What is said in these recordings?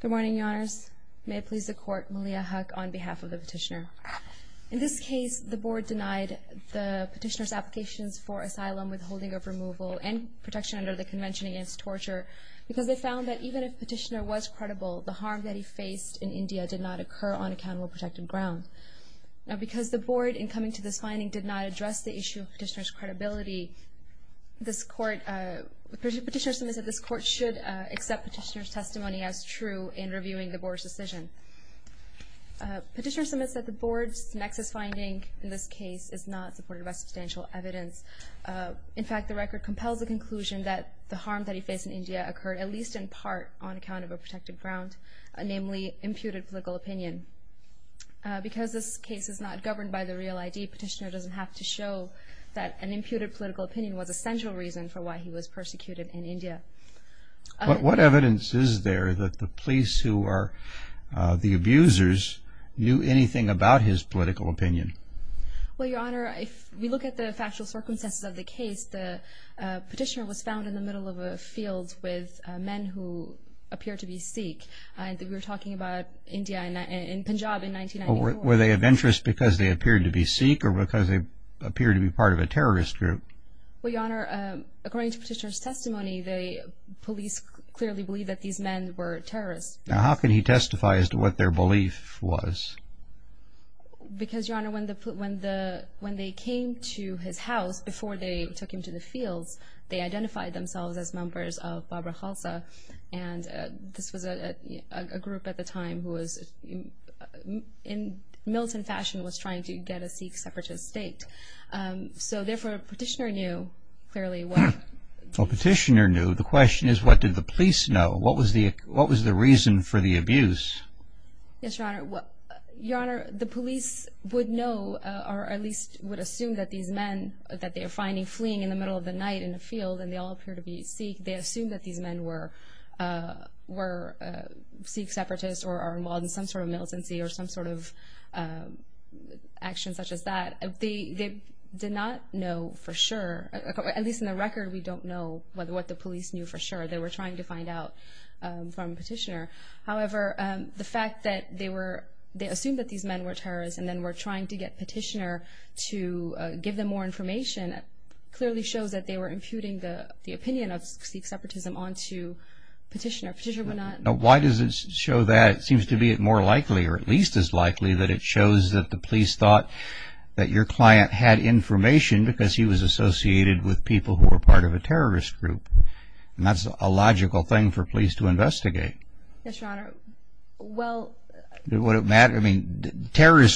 Good morning, Your Honors. May it please the Court, Malia Huq on behalf of the Petitioner. In this case, the Board denied the Petitioner's applications for asylum, withholding of removal, and protection under the Convention against Torture because they found that even if Petitioner was credible, the harm that he faced in India did not occur on accountable protected ground. Now, because the Board, in coming to this finding, did not address the issue of Petitioner's credibility, this Court, Petitioner submits that this Court should accept Petitioner's testimony as true in reviewing the Board's decision. Petitioner submits that the Board's nexus finding in this case is not supported by substantial evidence. In fact, the record compels the conclusion that the harm that he faced in India occurred, at least in part, on account of a protected ground, namely imputed political opinion. Because this case is not governed by the real ID, Petitioner doesn't have to show that an imputed political opinion was a central reason for why he was persecuted in India. But what evidence is there that the police who are the abusers knew anything about his political opinion? Well, Your Honor, if we look at the factual circumstances of the case, the Petitioner was found in the middle of a field with men who appeared to be Sikh. We were talking about India and Punjab in 1994. Were they of interest because they appeared to be Sikh or because they appeared to be part of a terrorist group? Well, Your Honor, according to Petitioner's testimony, the police clearly believed that these men were terrorists. Now, how can he testify as to what their belief was? Because, Your Honor, when they came to his house before they took him to the fields, they identified themselves as members of Bhabra Khalsa, and this was a group at the time who, in militant fashion, was trying to get a Sikh separatist state. So, therefore, Petitioner knew, clearly, what... Well, Petitioner knew. The question is, what did the police know? What was the reason for the abuse? Yes, Your Honor. Your Honor, the police would know, or at least would assume, that these men that they are finding fleeing in the middle of the night in a field and they all appear to be Sikh, they assume that these men were Sikh separatists or are involved in some sort of militancy or some sort of action such as that. They did not know for sure. At least in the record, we don't know what the police knew for sure. They were trying to find out from Petitioner. However, the fact that they assumed that these men were terrorists and then were trying to get Petitioner to give them more information, clearly shows that they were imputing the opinion of Sikh separatism onto Petitioner. Why does it show that? It seems to be more likely, or at least as likely, that it shows that the police thought that your client had information because he was associated with people who were part of a terrorist group. That's a logical thing for police to investigate. Terrorist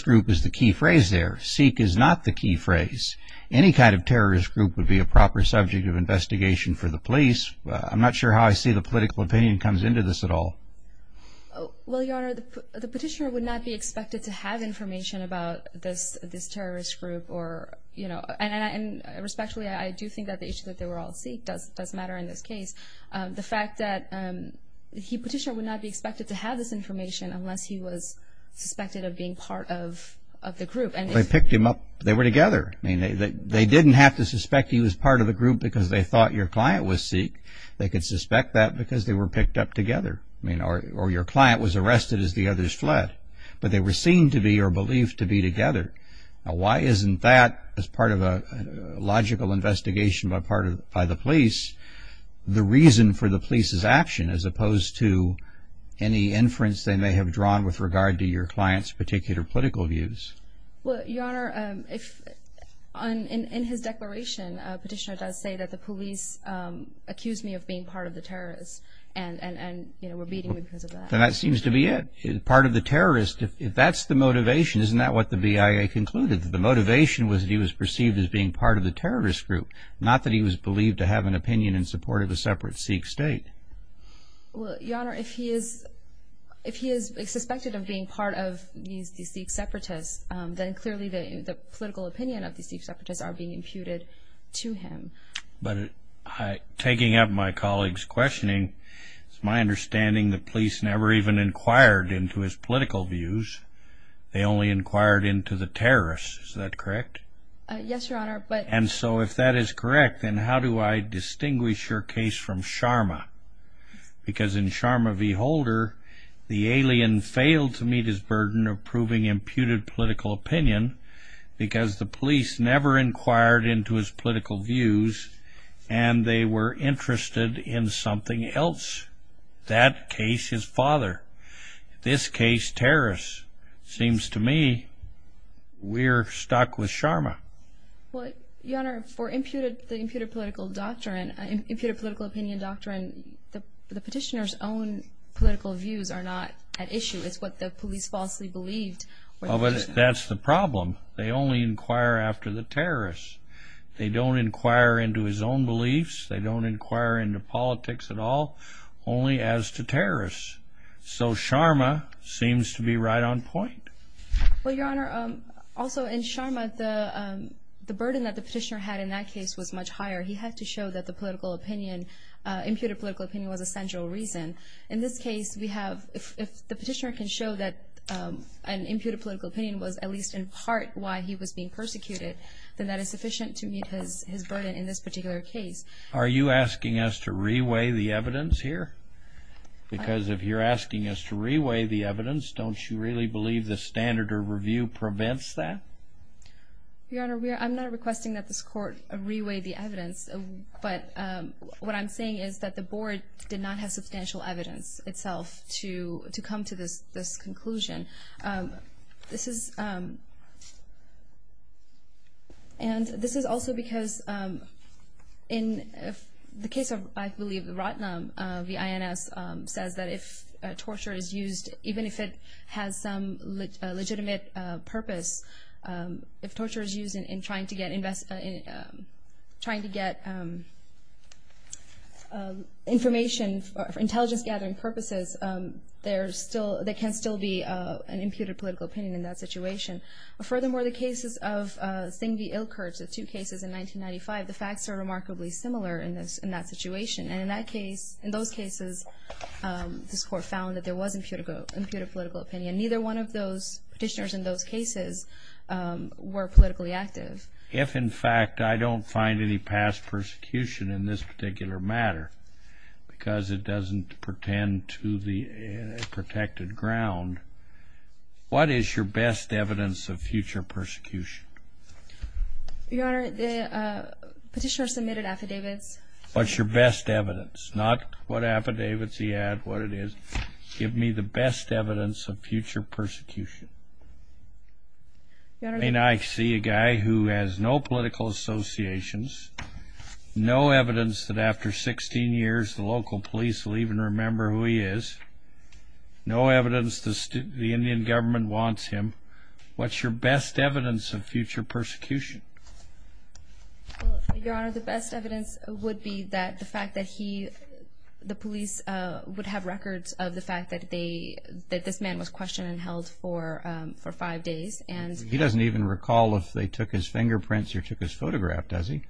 group is the key phrase there. Sikh is not the key phrase. Any kind of terrorist group would be a proper subject of investigation for the police. I'm not sure how I see the political opinion comes into this at all. Your Honor, the Petitioner would not be expected to have information about this terrorist group. Respectfully, I do think that the issue that they were all Sikh does matter in this case. The fact that Petitioner would not be expected to have this information unless he was suspected of being part of the group. They picked him up. They were together. They didn't have to suspect he was part of the group because they thought your client was Sikh. They could suspect that because they were picked up together. Or your client was arrested as the others fled, but they were seen to be or believed to be together. Why isn't that, as part of a logical investigation by the police, the reason for the police's action as opposed to any inference they may have drawn with regard to your client's particular political views? Your Honor, in his declaration, Petitioner does say that the police accused me of being part of the terrorists and were beating me because of that. That seems to be it. Part of the terrorists. If that's the motivation, isn't that what the BIA concluded? The motivation was that he was perceived as being part of the terrorist group, not that he was believed to have an opinion in support of a separate Sikh state. Your Honor, if he is suspected of being part of these Sikh separatists, then clearly the political opinion of these Sikh separatists are being imputed to him. But taking up my colleague's questioning, it's my understanding the police never even inquired into his political views. They only inquired into the terrorists. Is that correct? Yes, Your Honor, but... And so if that is correct, then how do I distinguish your case from Sharma? Because in Sharma v. Holder, the alien failed to meet his burden of proving imputed political opinion because the police never inquired into his political views, and they were interested in something else. That case, his father. This case, terrorists. Seems to me we're stuck with Sharma. Well, Your Honor, for the imputed political opinion doctrine, the petitioner's own political views are not at issue. It's what the police falsely believed. Well, but that's the problem. They only inquire after the terrorists. They don't inquire into his own beliefs. They don't inquire into politics at all. Only as to terrorists. So Sharma seems to be right on point. Well, Your Honor, also in Sharma, the burden that the petitioner had in that case was much higher. He had to show that the political opinion, imputed political opinion, was a central reason. In this case, if the petitioner can show that an imputed political opinion was at least in part why he was being persecuted, then that is sufficient to meet his burden in this particular case. Are you asking us to reweigh the evidence here? Because if you're asking us to reweigh the evidence, don't you really believe the standard of review prevents that? Your Honor, I'm not requesting that this Court reweigh the evidence, but what I'm saying is that the Board did not have substantial evidence itself to come to this conclusion. And this is also because in the case of, I believe, Ratnam, the INS, says that if torture is used, even if it has some legitimate purpose, if torture is used in trying to get information for intelligence-gathering purposes, there can still be an imputed political opinion in that situation. Furthermore, the cases of Singh v. Ilkertz, the two cases in 1995, the facts are remarkably similar in that situation. And in those cases, this Court found that there was imputed political opinion. Neither one of those petitioners in those cases were politically active. If, in fact, I don't find any past persecution in this particular matter, because it doesn't pertain to the protected ground, what is your best evidence of future persecution? Your Honor, the petitioner submitted affidavits. What's your best evidence? Not what affidavits he had, what it is. Give me the best evidence of future persecution. I mean, I see a guy who has no political associations, no evidence that after 16 years the local police will even remember who he is, no evidence the Indian government wants him. What's your best evidence of future persecution? Your Honor, the best evidence would be that the fact that he, the police, would have records of the fact that this man was questioned and held for five days. He doesn't even recall if they took his fingerprints or took his photograph, does he?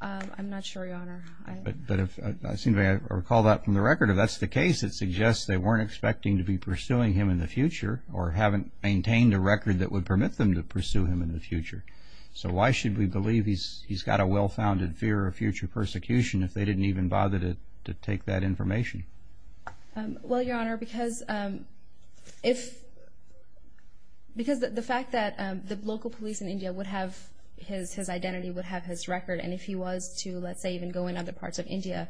I'm not sure, Your Honor. But I seem to recall that from the record. If that's the case, it suggests they weren't expecting to be pursuing him in the future Well, Your Honor, because the fact that the local police in India would have his identity, would have his record, and if he was to, let's say, even go in other parts of India,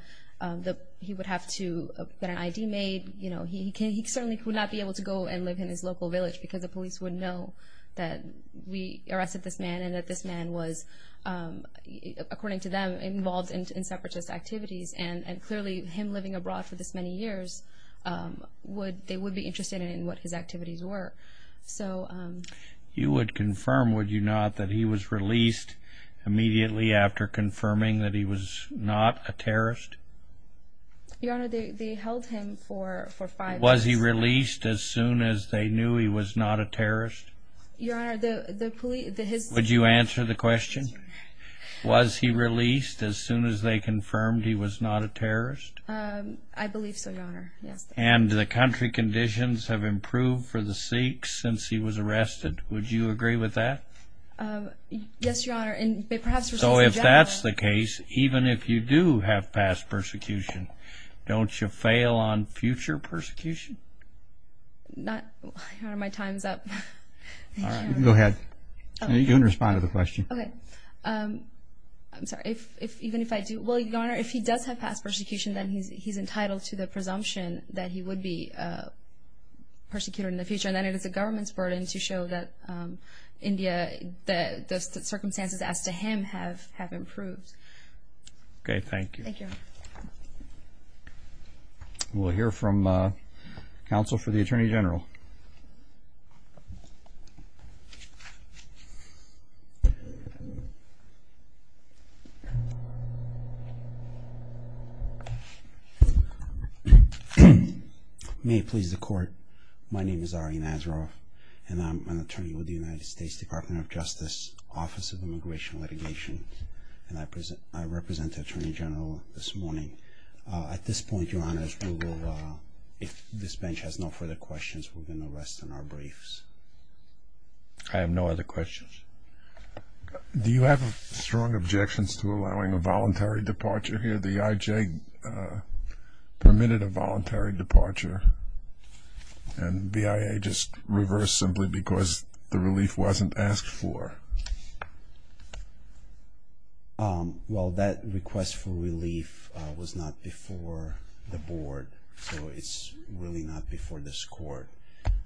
he would have to get an ID made. He certainly could not be able to go and live in his local village because the police would know that we arrested this man and that this man was, according to them, involved in separatist activities. And clearly, him living abroad for this many years, they would be interested in what his activities were. You would confirm, would you not, that he was released immediately after confirming that he was not a terrorist? Your Honor, they held him for five days. Was he released as soon as they knew he was not a terrorist? Would you answer the question? Was he released as soon as they confirmed he was not a terrorist? I believe so, Your Honor. And the country conditions have improved for the Sikhs since he was arrested. Would you agree with that? Yes, Your Honor. So if that's the case, even if you do have past persecution, don't you fail on future persecution? Your Honor, my time is up. I'm sorry, even if I do, well, Your Honor, if he does have past persecution, then he's entitled to the presumption that he would be persecuted in the future. And then it is the government's burden to show that India, the circumstances as to him have improved. Okay, thank you. We'll hear from counsel for the Attorney General. May it please the Court, my name is Ari Nazaroff, and I'm an attorney with the United States Department of Justice, Office of Immigration and Litigation, and I represent the Attorney General this morning. At this point, Your Honor, if this bench has no further questions, we're going to rest on our briefs. I have no other questions. Do you have strong objections to allowing a voluntary departure here? The IJ permitted a voluntary departure, and BIA just reversed simply because the relief wasn't asked for. Well, that request for relief was not before the Board, so it's really not before this Court.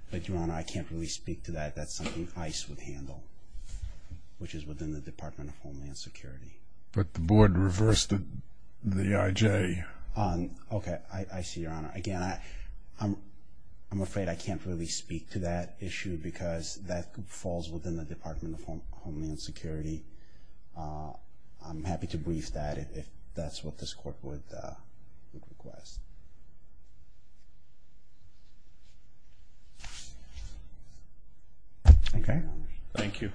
But, Your Honor, I can't really speak to that. That's something ICE would handle, which is within the Department of Homeland Security. But the Board reversed the IJ. Okay, I see, Your Honor. Again, I'm afraid I can't really speak to that issue because that falls within the Department of Homeland Security. I'm happy to brief that if that's what this Court would request. Thank you.